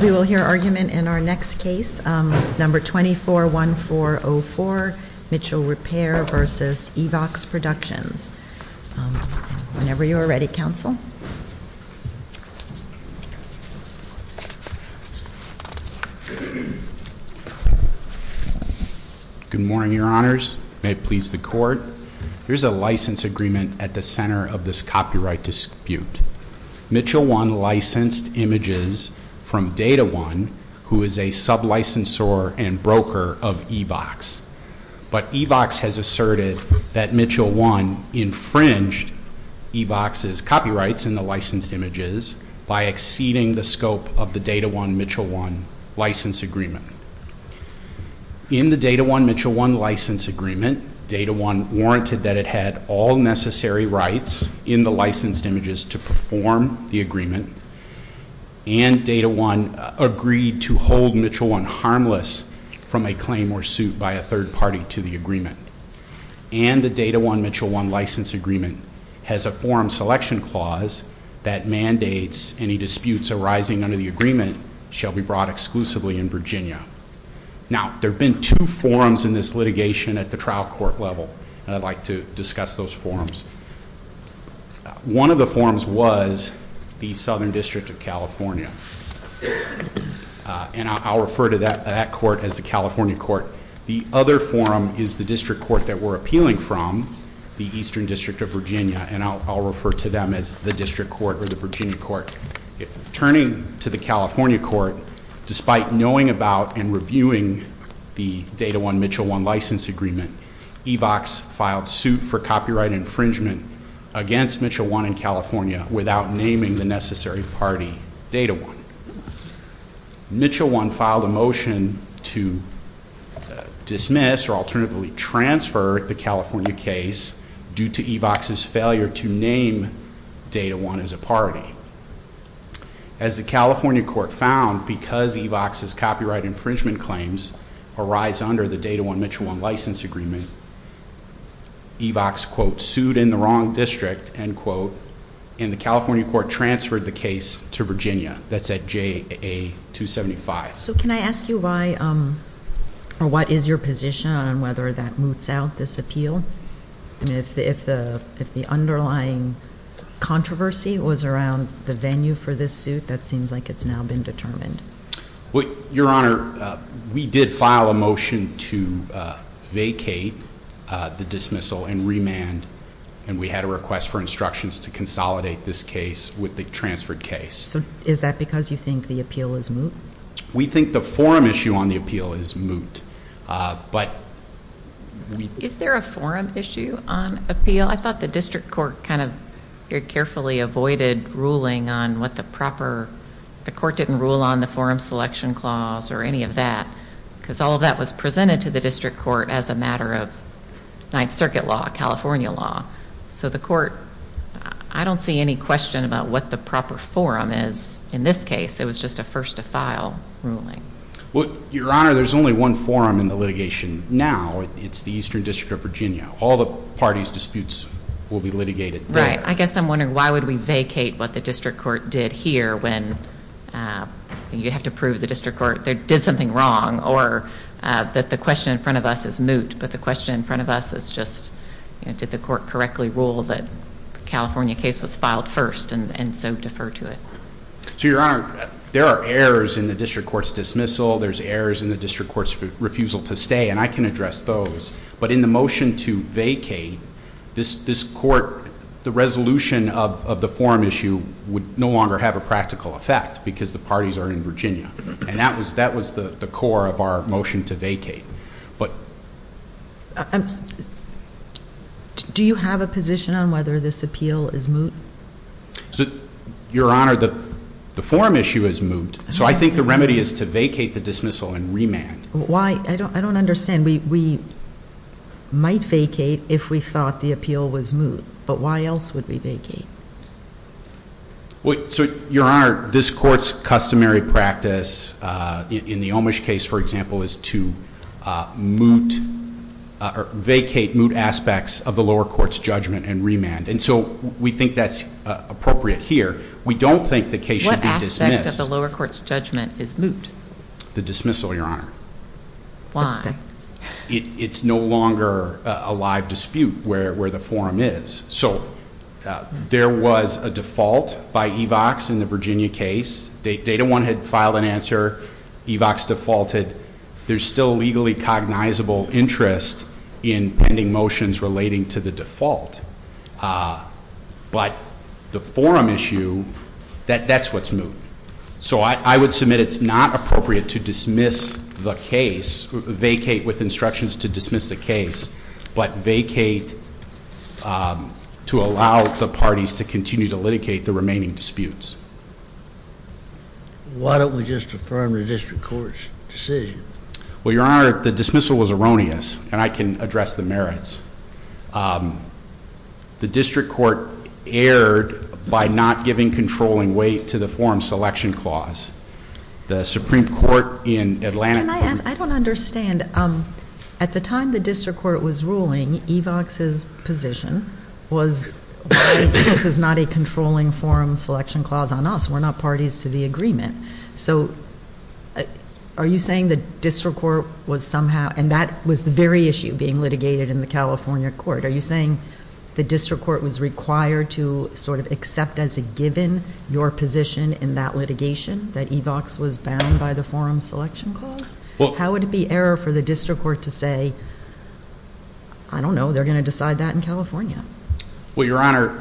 We will hear argument in our next case, number 241404, Mitchell Repair v. Evox Productions. Whenever you are ready, counsel. Good morning, Your Honors. May it please the Court. Here is a license agreement at the center of this copyright dispute. Mitchell I licensed images from Data One, who is a sub-licensor and broker of Evox. But Evox has asserted that Mitchell I infringed Evox's copyrights in the licensed images by exceeding the scope of the Data One-Mitchell I license agreement. In the Data One-Mitchell I license agreement, Data One warranted that it had all necessary rights in the licensed images to perform the agreement, and Data One agreed to hold Mitchell I harmless from a claim or suit by a third party to the agreement. And the Data One-Mitchell I license agreement has a forum selection clause that mandates any disputes arising under the agreement shall be brought exclusively in Virginia. Now, there have been two forums in this litigation at the trial court level, and I'd like to discuss those forums. One of the forums was the Southern District of California, and I'll refer to that court as the California court. The other forum is the district court that we're appealing from, the Eastern District of Virginia, and I'll refer to them as the district court or the Virginia court. Turning to the California court, despite knowing about and reviewing the Data One-Mitchell I license agreement, Evox filed suit for copyright infringement against Mitchell I in California without naming the necessary party Data One. Mitchell I filed a motion to dismiss or alternatively transfer the California case due to Evox's failure to name Data One as a party. As the California court found, because Evox's copyright infringement claims arise under the Data One-Mitchell I license agreement, Evox, quote, sued in the wrong district, end quote, and the California court transferred the case to Virginia. That's at JA 275. So can I ask you why or what is your position on whether that moots out this appeal? I mean, if the underlying controversy was around the venue for this suit, that seems like it's now been determined. Your Honor, we did file a motion to vacate the dismissal and remand, and we had a request for instructions to consolidate this case with the transferred case. So is that because you think the appeal is moot? We think the forum issue on the appeal is moot. Is there a forum issue on appeal? I thought the district court kind of very carefully avoided ruling on what the proper, the court didn't rule on the forum selection clause or any of that, because all of that was presented to the district court as a matter of Ninth Circuit law, California law. So the court, I don't see any question about what the proper forum is. In this case, it was just a first-to-file ruling. Well, Your Honor, there's only one forum in the litigation now. It's the Eastern District of Virginia. All the parties' disputes will be litigated there. Right. I guess I'm wondering why would we vacate what the district court did here when you have to prove the district court did something wrong or that the question in front of us is moot, but the question in front of us is just, did the court correctly rule that the California case was filed first and so defer to it? So, Your Honor, there are errors in the district court's dismissal. There's errors in the district court's refusal to stay, and I can address those. But in the motion to vacate, this court, the resolution of the forum issue, would no longer have a practical effect because the parties are in Virginia, and that was the core of our motion to vacate. Do you have a position on whether this appeal is moot? Your Honor, the forum issue is moot, so I think the remedy is to vacate the dismissal and remand. Why? I don't understand. We might vacate if we thought the appeal was moot, but why else would we vacate? Your Honor, this court's customary practice in the Omish case, for example, is to vacate moot aspects of the lower court's judgment and remand, and so we think that's appropriate here. We don't think the case should be dismissed. What aspect of the lower court's judgment is moot? The dismissal, Your Honor. Why? It's no longer a live dispute where the forum is. So there was a default by EVOX in the Virginia case. Data 1 had filed an answer. EVOX defaulted. There's still legally cognizable interest in pending motions relating to the default. But the forum issue, that's what's moot. So I would submit it's not appropriate to dismiss the case, vacate with instructions to dismiss the case, but vacate to allow the parties to continue to litigate the remaining disputes. Why don't we just affirm the district court's decision? Well, Your Honor, the dismissal was erroneous, and I can address the merits. The district court erred by not giving controlling weight to the forum selection clause. The Supreme Court in Atlanta. Can I ask? I don't understand. At the time the district court was ruling, EVOX's position was this is not a controlling forum selection clause on us. We're not parties to the agreement. So are you saying the district court was somehow, and that was the very issue being litigated in the California court, are you saying the district court was required to sort of accept as a given your position in that litigation, that EVOX was bound by the forum selection clause? How would it be error for the district court to say, I don't know, they're going to decide that in California? Well, Your Honor,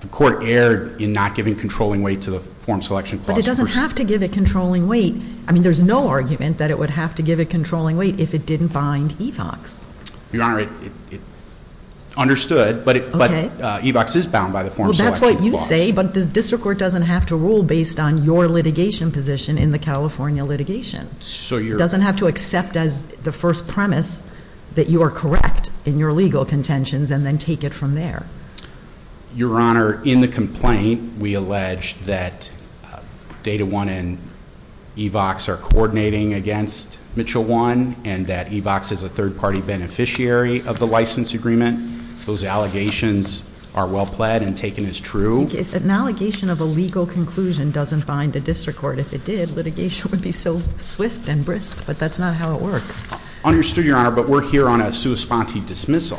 the court erred in not giving controlling weight to the forum selection clause. But it doesn't have to give a controlling weight. I mean, there's no argument that it would have to give a controlling weight if it didn't bind EVOX. Your Honor, understood, but EVOX is bound by the forum selection clause. Well, that's what you say, but the district court doesn't have to rule based on your litigation position in the California litigation. It doesn't have to accept as the first premise that you are correct in your legal contentions and then take it from there. Your Honor, in the complaint, we allege that Data One and EVOX are coordinating against Mitchell One, and that EVOX is a third party beneficiary of the license agreement. Those allegations are well pled and taken as true. If an allegation of a legal conclusion doesn't bind a district court, if it did, litigation would be so swift and brisk, but that's not how it works. Understood, Your Honor, but we're here on a sua sponte dismissal.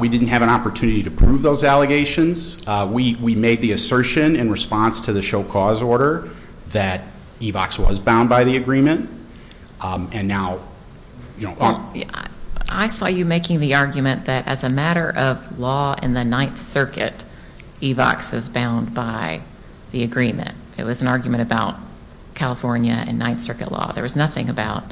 We didn't have an opportunity to prove those allegations. We made the assertion in response to the show cause order that EVOX was bound by the agreement, and now, you know, I saw you making the argument that as a matter of law in the Ninth Circuit, EVOX is bound by the agreement. It was an argument about California and Ninth Circuit law. There was nothing about,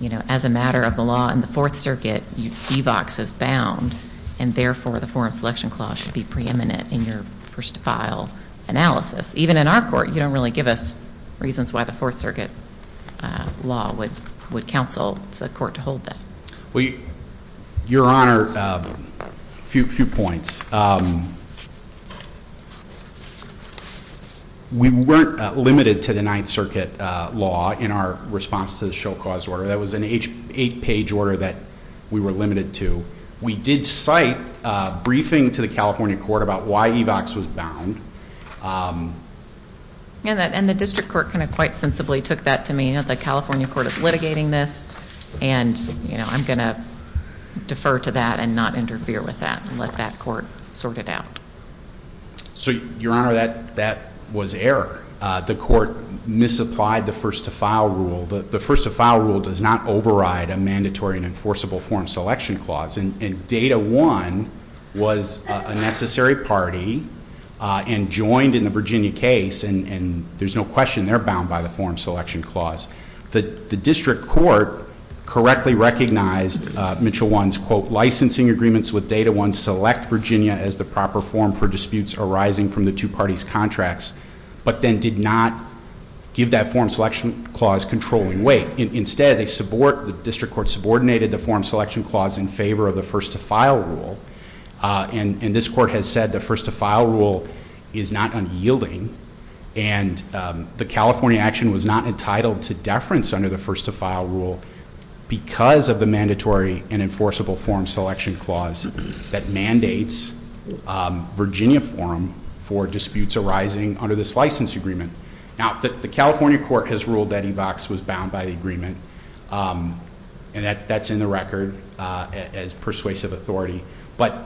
you know, as a matter of the law in the Fourth Circuit, EVOX is bound, and therefore the forum selection clause should be preeminent in your first file analysis. Even in our court, you don't really give us reasons why the Fourth Circuit law would counsel the court to hold that. Well, Your Honor, a few points. We weren't limited to the Ninth Circuit law in our response to the show cause order. That was an eight-page order that we were limited to. We did cite a briefing to the California court about why EVOX was bound. And the district court kind of quite sensibly took that to mean that the California court is litigating this, and, you know, I'm going to defer to that and not interfere with that and let that court sort it out. So, Your Honor, that was error. The court misapplied the first-to-file rule. The first-to-file rule does not override a mandatory and enforceable forum selection clause, and Data 1 was a necessary party and joined in the Virginia case, and there's no question they're bound by the forum selection clause. The district court correctly recognized Mitchell 1's, quote, licensing agreements with Data 1 select Virginia as the proper forum for disputes arising from the two parties' contracts, but then did not give that forum selection clause controlling weight. Instead, the district court subordinated the forum selection clause in favor of the first-to-file rule, and this court has said the first-to-file rule is not unyielding, and the California action was not entitled to deference under the first-to-file rule because of the mandatory and enforceable forum selection clause that mandates Virginia forum for disputes arising under this license agreement. Now, the California court has ruled that EVOX was bound by the agreement, and that's in the record as persuasive authority, but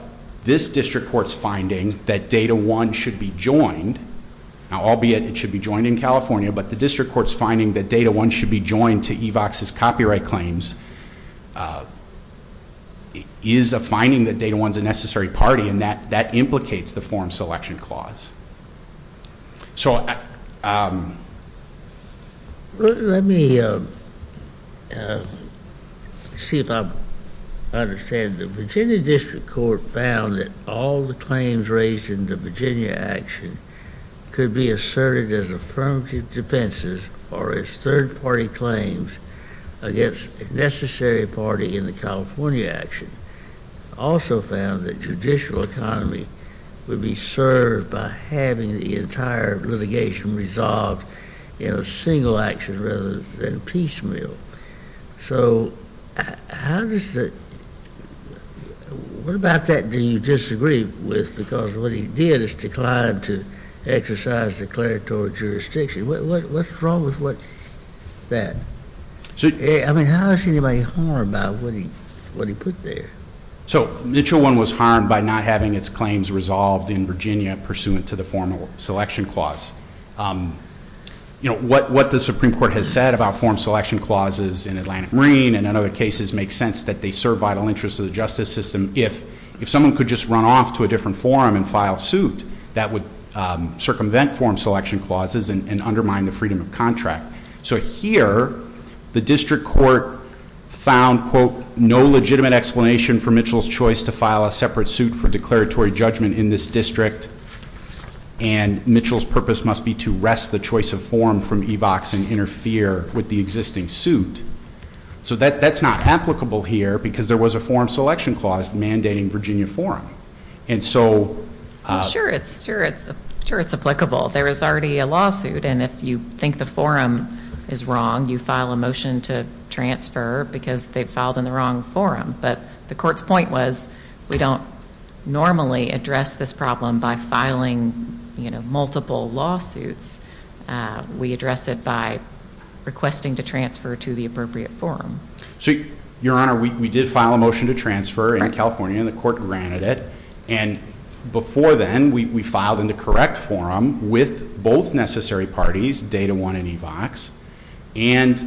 this district court's finding that Data 1 should be joined, now, albeit it should be joined in California, but the district court's finding that Data 1 should be joined to EVOX's copyright claims is a finding that Data 1's a necessary party, and that implicates the forum selection clause. So, let me see if I understand. The Virginia district court found that all the claims raised in the Virginia action could be asserted as affirmative defenses or as third-party claims against a necessary party in the California action. It also found that judicial economy would be served by having the entire litigation resolved in a single action rather than piecemeal. So, how does the – what about that do you disagree with because what he did is decline to exercise declaratory jurisdiction? What's wrong with what – that? I mean, how is anybody harmed by what he put there? So, Mitchell 1 was harmed by not having its claims resolved in Virginia pursuant to the forum selection clause. You know, what the Supreme Court has said about forum selection clauses in Atlantic Marine and in other cases make sense that they serve vital interests of the justice system. If someone could just run off to a different forum and file suit, that would circumvent forum selection clauses and undermine the freedom of contract. So, here, the district court found, quote, no legitimate explanation for Mitchell's choice to file a separate suit for declaratory judgment in this district and Mitchell's purpose must be to wrest the choice of forum from EVOX and interfere with the existing suit. So, that's not applicable here because there was a forum selection clause mandating Virginia forum. And so – Sure, it's applicable. There is already a lawsuit and if you think the forum is wrong, you file a motion to transfer because they filed in the wrong forum. But the court's point was we don't normally address this problem by filing, you know, multiple lawsuits. We address it by requesting to transfer to the appropriate forum. So, Your Honor, we did file a motion to transfer in California and the court granted it. And before then, we filed in the correct forum with both necessary parties, Data One and EVOX, and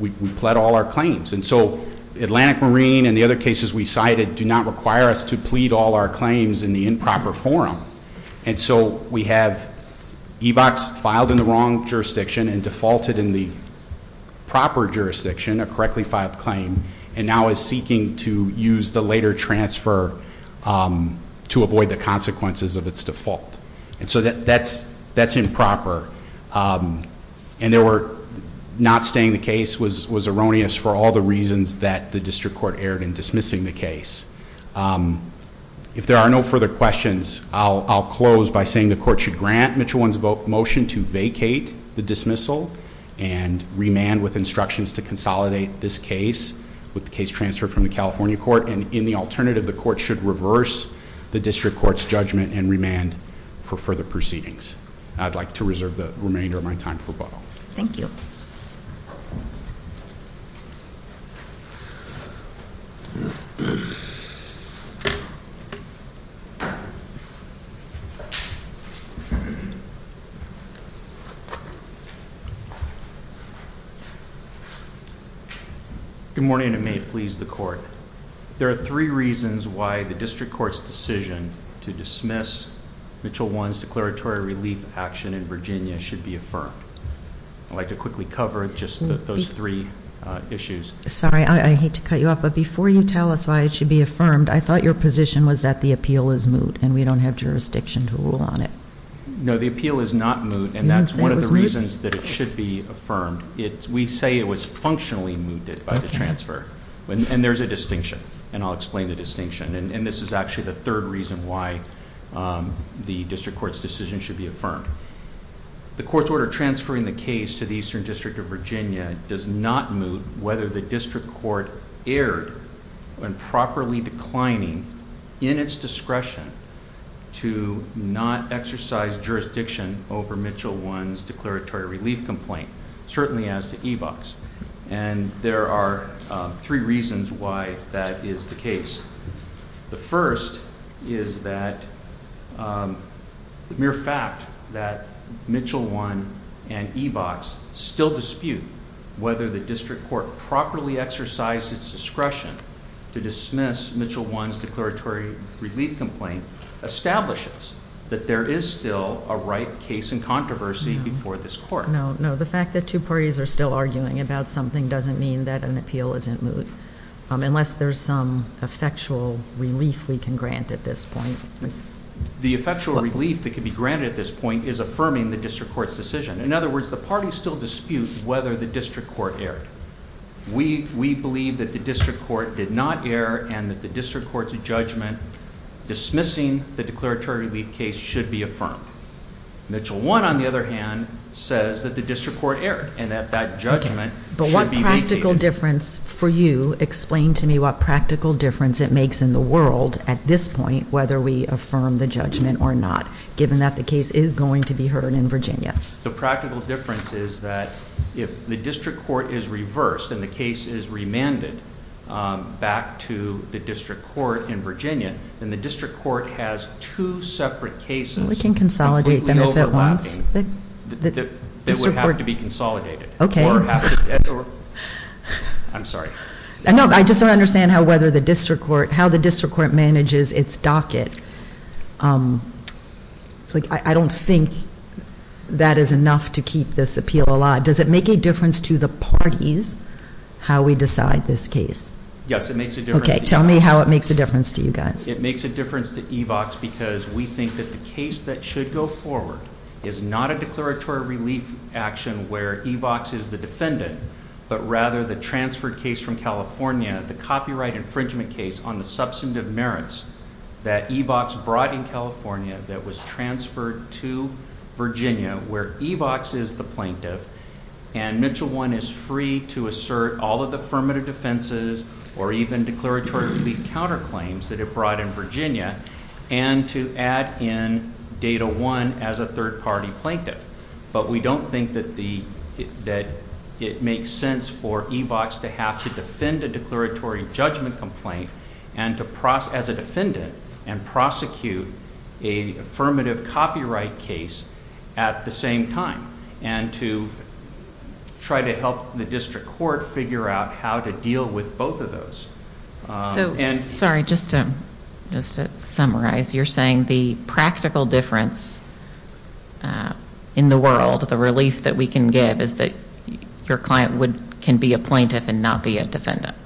we pled all our claims. And so, Atlantic Marine and the other cases we cited do not require us to plead all our claims in the improper forum. And so, we have EVOX filed in the wrong jurisdiction and defaulted in the proper jurisdiction, a correctly filed claim, and now is seeking to use the later transfer to avoid the consequences of its default. And so, that's improper. And not staying the case was erroneous for all the reasons that the district court erred in dismissing the case. If there are no further questions, I'll close by saying the court should grant Mitchell 1's motion to vacate the dismissal and remand with instructions to consolidate this case with the case transferred from the California court. And in the alternative, the court should reverse the district court's judgment and remand for further proceedings. I'd like to reserve the remainder of my time for rebuttal. Thank you. Good morning, and may it please the court. There are three reasons why the district court's decision to dismiss Mitchell 1's declaratory relief action in Virginia should be affirmed. I'd like to quickly cover just those three issues. Sorry, I hate to cut you off, but before you tell us why it should be affirmed, I thought your position was that the appeal is moot and we don't have jurisdiction to rule on it. No, the appeal is not moot, and that's one of the reasons that it should be affirmed. We say it was functionally mooted by the transfer. And there's a distinction, and I'll explain the distinction. And this is actually the third reason why the district court's decision should be affirmed. The court's order transferring the case to the Eastern District of Virginia does not moot whether the district court erred when properly declining in its discretion to not exercise jurisdiction over Mitchell 1's declaratory relief complaint, certainly as to eVox. And there are three reasons why that is the case. The first is that the mere fact that Mitchell 1 and eVox still dispute whether the district court properly exercised its discretion to dismiss Mitchell 1's declaratory relief complaint establishes that there is still a right case in controversy before this court. No, no, the fact that two parties are still arguing about something doesn't mean that an appeal isn't moot, unless there's some effectual relief we can grant at this point. The effectual relief that can be granted at this point is affirming the district court's decision. In other words, the parties still dispute whether the district court erred. We believe that the district court did not err and that the district court's judgment dismissing the declaratory relief case should be affirmed. Mitchell 1, on the other hand, says that the district court erred and that that judgment should be vacated. But what practical difference, for you, explain to me what practical difference it makes in the world at this point whether we affirm the judgment or not, given that the case is going to be heard in Virginia? The practical difference is that if the district court is reversed and the case is remanded back to the district court in Virginia, then the district court has two separate cases completely overlapping. We can consolidate them if it wants. They would have to be consolidated. Okay. Or have to, or, I'm sorry. No, I just don't understand how whether the district court, how the district court manages its docket. Like, I don't think that is enough to keep this appeal alive. Does it make a difference to the parties how we decide this case? Yes, it makes a difference. Okay. Tell me how it makes a difference to you guys. It makes a difference to EVOX because we think that the case that should go forward is not a declaratory relief action where EVOX is the defendant, but rather the transferred case from California, the copyright infringement case on the substantive merits that EVOX brought in California that was transferred to Virginia where EVOX is the plaintiff, and Mitchell 1 is free to assert all of the affirmative defenses or even declaratory relief counterclaims that it brought in Virginia, and to add in Data 1 as a third-party plaintiff. But we don't think that it makes sense for EVOX to have to defend a declaratory judgment complaint as a defendant and prosecute an affirmative copyright case at the same time and to try to help the district court figure out how to deal with both of those. Sorry. Just to summarize, you're saying the practical difference in the world, the relief that we can give, is that your client can be a plaintiff and not be a defendant.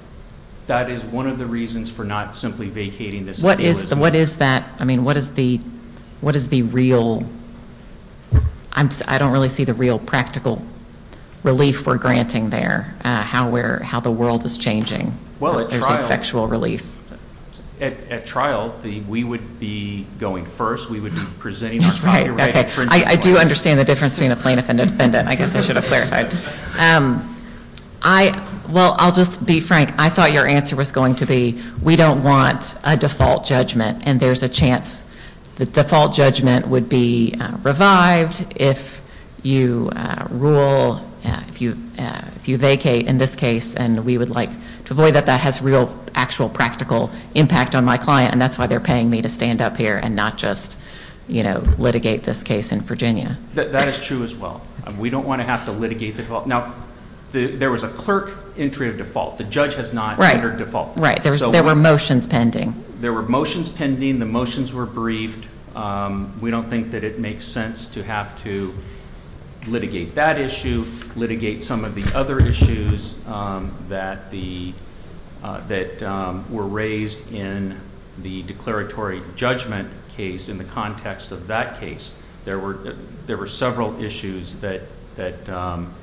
That is one of the reasons for not simply vacating this. What is that? I mean, what is the real? I don't really see the real practical relief we're granting there, how the world is changing. Well, at trial, we would be going first. We would be presenting our copyright. I do understand the difference between a plaintiff and a defendant. I guess I should have clarified. Well, I'll just be frank. I thought your answer was going to be, we don't want a default judgment, and there's a chance the default judgment would be revived if you rule, if you vacate in this case, and we would like to avoid that. That has real actual practical impact on my client, and that's why they're paying me to stand up here and not just litigate this case in Virginia. That is true as well. We don't want to have to litigate the default. Now, there was a clerk entry of default. The judge has not entered default. Right. There were motions pending. There were motions pending. The motions were briefed. We don't think that it makes sense to have to litigate that issue, to litigate some of the other issues that were raised in the declaratory judgment case in the context of that case. There were several issues that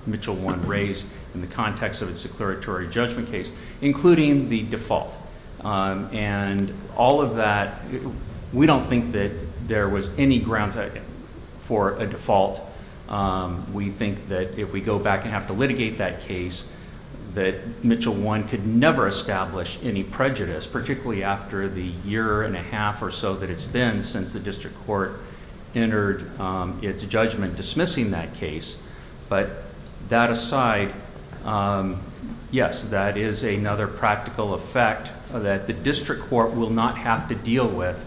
Mitchell 1 raised in the context of its declaratory judgment case, including the default. And all of that, we don't think that there was any grounds for a default. We think that if we go back and have to litigate that case, that Mitchell 1 could never establish any prejudice, particularly after the year and a half or so that it's been since the district court entered its judgment dismissing that case. But that aside, yes, that is another practical effect that the district court will not have to deal with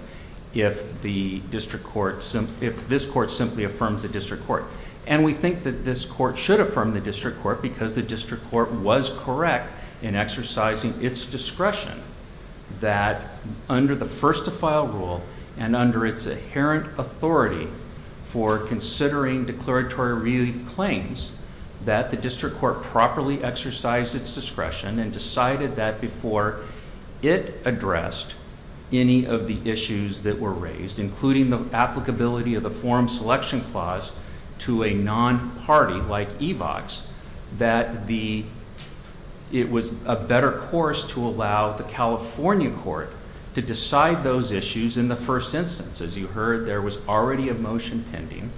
if this court simply affirms the district court. And we think that this court should affirm the district court because the district court was correct in exercising its discretion that under the first to file rule and under its inherent authority for considering declaratory relief claims, that the district court properly exercised its discretion and decided that before it addressed any of the issues that were raised, including the applicability of the forum selection clause to a non-party like EVOX, that it was a better course to allow the California court to decide those issues in the first instance. As you heard, there was already a motion pending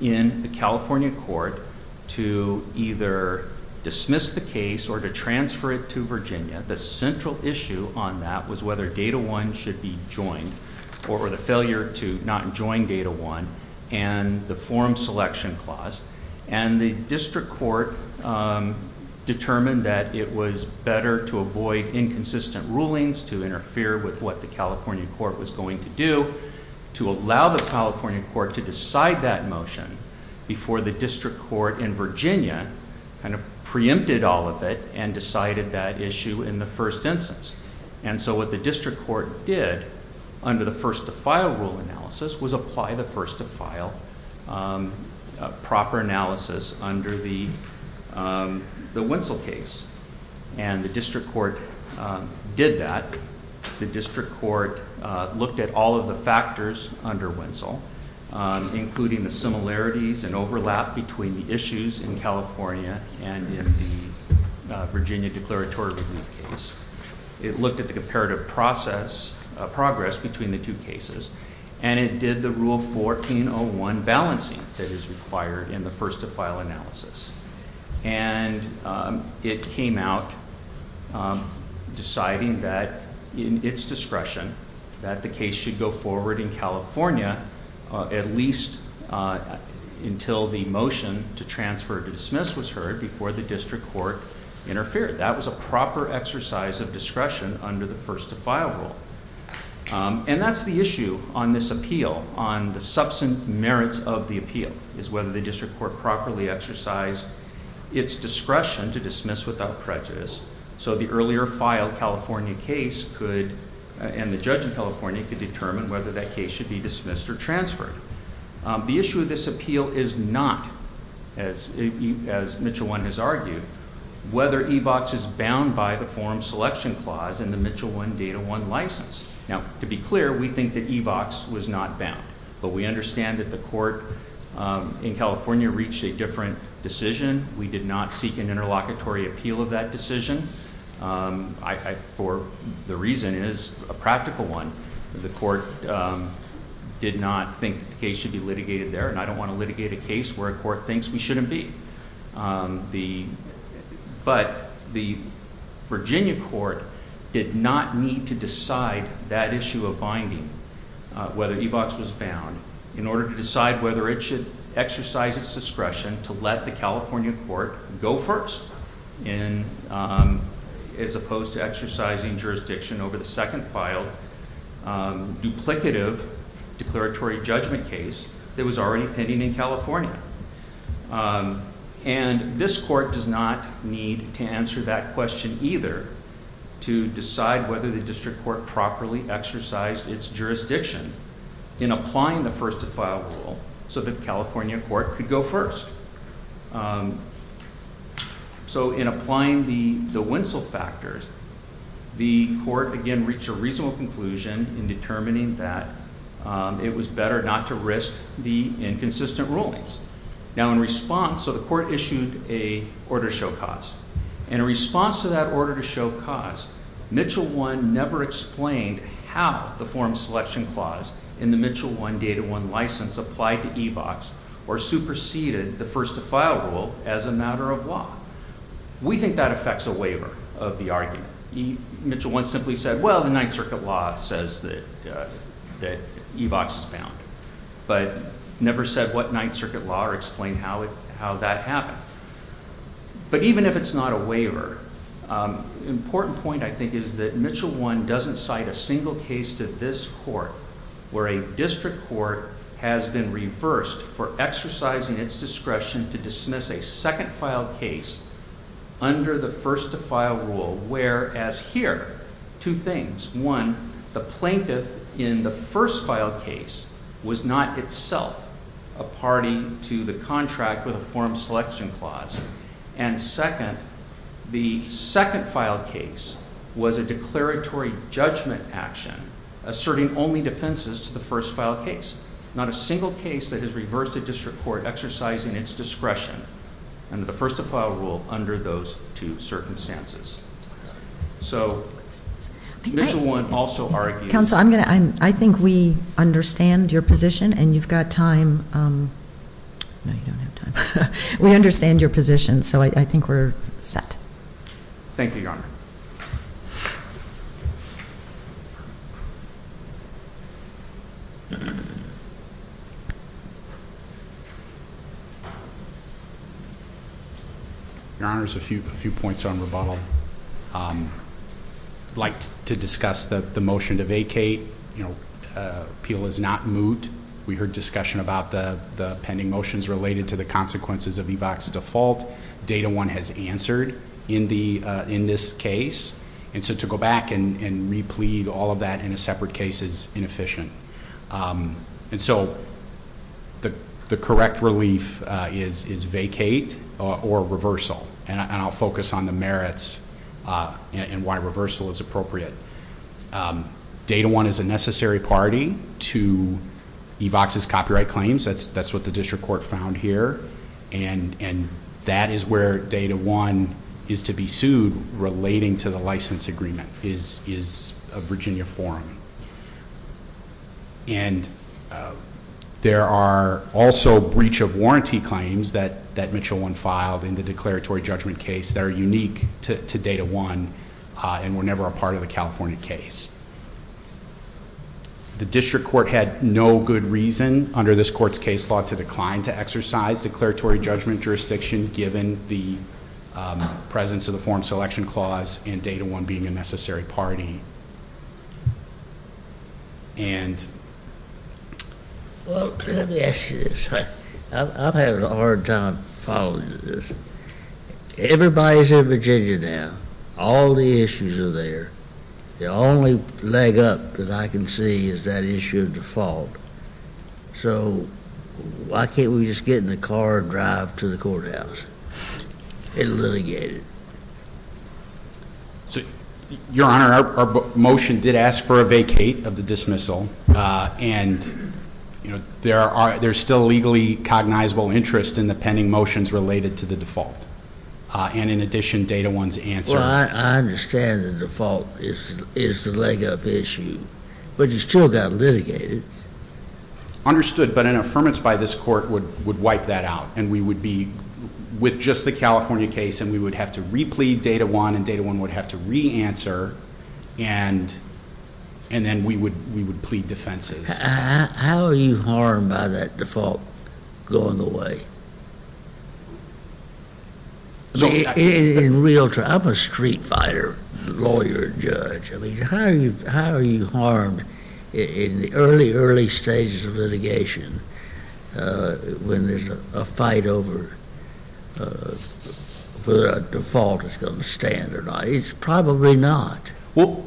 in the California court to either dismiss the case or to transfer it to Virginia. The central issue on that was whether Data 1 should be joined or the failure to not join Data 1 and the forum selection clause. And the district court determined that it was better to avoid inconsistent rulings, to interfere with what the California court was going to do, to allow the California court to decide that motion before the district court in Virginia kind of preempted all of it and decided that issue in the first instance. And so what the district court did under the first to file rule analysis was apply the first to file proper analysis under the Winsel case. And the district court did that. The district court looked at all of the factors under Winsel, including the similarities and overlap between the issues in California and in the Virginia declaratory relief case. It looked at the comparative process, progress between the two cases, and it did the rule 1401 balancing that is required in the first to file analysis. And it came out deciding that in its discretion that the case should go forward in California at least until the motion to transfer to dismiss was heard before the district court interfered. That was a proper exercise of discretion under the first to file rule. And that's the issue on this appeal, on the substant merits of the appeal, is whether the district court properly exercised its discretion to dismiss without prejudice so the earlier filed California case could, and the judge in California, could determine whether that case should be dismissed or transferred. The issue of this appeal is not, as Mitchell 1 has argued, whether EVOX is bound by the forum selection clause in the Mitchell 1 Data 1 license. Now, to be clear, we think that EVOX was not bound. But we understand that the court in California reached a different decision. We did not seek an interlocutory appeal of that decision. The reason is a practical one. The court did not think the case should be litigated there, and I don't want to litigate a case where a court thinks we shouldn't be. But the Virginia court did not need to decide that issue of binding, whether EVOX was bound, in order to decide whether it should exercise its discretion to let the California court go first as opposed to exercising jurisdiction over the second filed duplicative declaratory judgment case that was already pending in California. And this court does not need to answer that question either to decide whether the district court properly exercised its jurisdiction in applying the first to file rule so that the California court could go first. So in applying the Winsell factors, the court, again, reached a reasonable conclusion in determining that it was better not to risk the inconsistent rulings. Now, in response, so the court issued an order to show cause. In response to that order to show cause, Mitchell 1 never explained how the forum selection clause in the Mitchell 1, Data 1 license applied to EVOX or superseded the first to file rule as a matter of law. We think that affects a waiver of the argument. Mitchell 1 simply said, well, the Ninth Circuit law says that EVOX is bound, but never said what Ninth Circuit law or explained how that happened. But even if it's not a waiver, an important point I think is that Mitchell 1 doesn't cite a single case to this court where a district court has been reversed for exercising its discretion to dismiss a second file case under the first to file rule, whereas here, two things. One, the plaintiff in the first file case was not itself a party to the contract with a forum selection clause. Second, the second file case was a declaratory judgment action, asserting only defenses to the first file case, not a single case that has reversed a district court exercising its discretion under the first to file rule under those two circumstances. So, Mitchell 1 also argued... Counsel, I think we understand your position and you've got time. No, you don't have time. We understand your position, so I think we're set. Thank you, Your Honor. Your Honor, a few points on rebuttal. I'd like to discuss the motion to vacate. Appeal is not moot. We heard discussion about the pending motions related to the consequences of EVAC's default. Data 1 has answered in this case, and so to go back and replete all of that in a separate case is inefficient. And so the correct relief is vacate or reversal, and I'll focus on the merits and why reversal is appropriate. Data 1 is a necessary party to EVAC's copyright claims. That's what the district court found here, and that is where Data 1 is to be sued relating to the license agreement is a Virginia forum. And there are also breach of warranty claims that Mitchell 1 filed in the declaratory judgment case that are unique to Data 1 and were never a part of the California case. The district court had no good reason under this court's case law to decline to exercise declaratory judgment jurisdiction given the presence of the forum selection clause and Data 1 being a necessary party. Well, let me ask you this. I'm having a hard time following this. Everybody's in Virginia now. All the issues are there. The only leg up that I can see is that issue of default. So why can't we just get in the car and drive to the courthouse and litigate it? Your Honor, our motion did ask for a vacate of the dismissal, and there's still legally cognizable interest in the pending motions related to the default, and in addition, Data 1's answer. Well, I understand the default is the leg up issue, but it still got litigated. Understood, but an affirmance by this court would wipe that out, and we would be with just the California case, and we would have to re-plead Data 1, and Data 1 would have to re-answer, and then we would plead defenses. How are you harmed by that default going away? In real terms, I'm a street fighter, lawyer, judge. I mean, how are you harmed in the early, early stages of litigation when there's a fight over whether a default is going to stand or not? It's probably not. Well,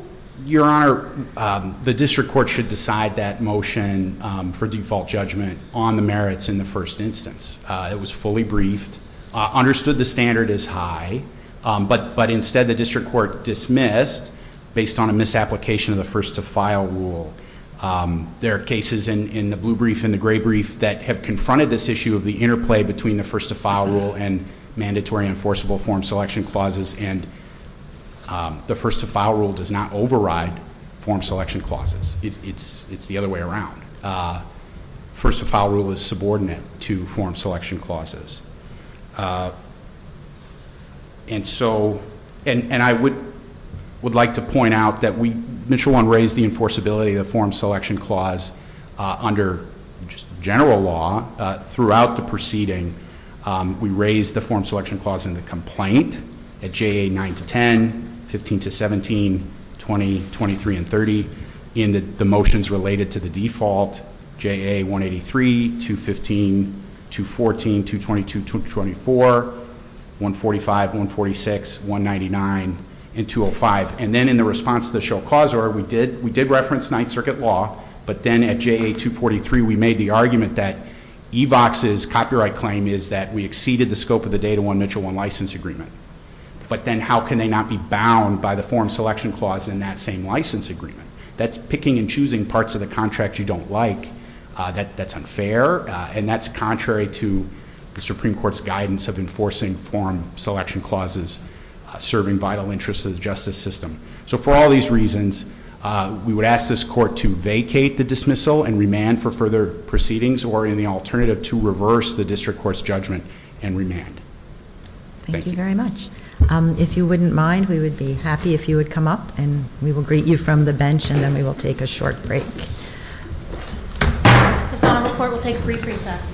Your Honor, the district court should decide that motion for default judgment on the merits in the first instance. It was fully briefed, understood the standard is high, but instead the district court dismissed, based on a misapplication of the first-to-file rule. There are cases in the blue brief and the gray brief that have confronted this issue of the interplay between the first-to-file rule and mandatory enforceable form selection clauses, and the first-to-file rule does not override form selection clauses. It's the other way around. First-to-file rule is subordinate to form selection clauses. And I would like to point out that Mitchell 1 raised the enforceability of the form selection clause under general law throughout the proceeding. We raised the form selection clause in the complaint at JA 9-10, 15-17, 20, 23, and 30 in the motions related to the default, JA 183, 215, 214, 222, 224, 145, 146, 199, and 205. And then in the response to the show cause order, we did reference Ninth Circuit law, but then at JA 243 we made the argument that EVOX's copyright claim is that we exceeded the scope of the Data 1-Mitchell 1 license agreement. But then how can they not be bound by the form selection clause in that same license agreement? That's picking and choosing parts of the contract you don't like. That's unfair, and that's contrary to the Supreme Court's guidance of enforcing form selection clauses serving vital interests of the justice system. So for all these reasons, we would ask this Court to vacate the dismissal and remand for further proceedings, or in the alternative, to reverse the district court's judgment and remand. Thank you. Thank you very much. If you wouldn't mind, we would be happy if you would come up, and we will greet you from the bench, and then we will take a short break. This Honorable Court will take a brief recess.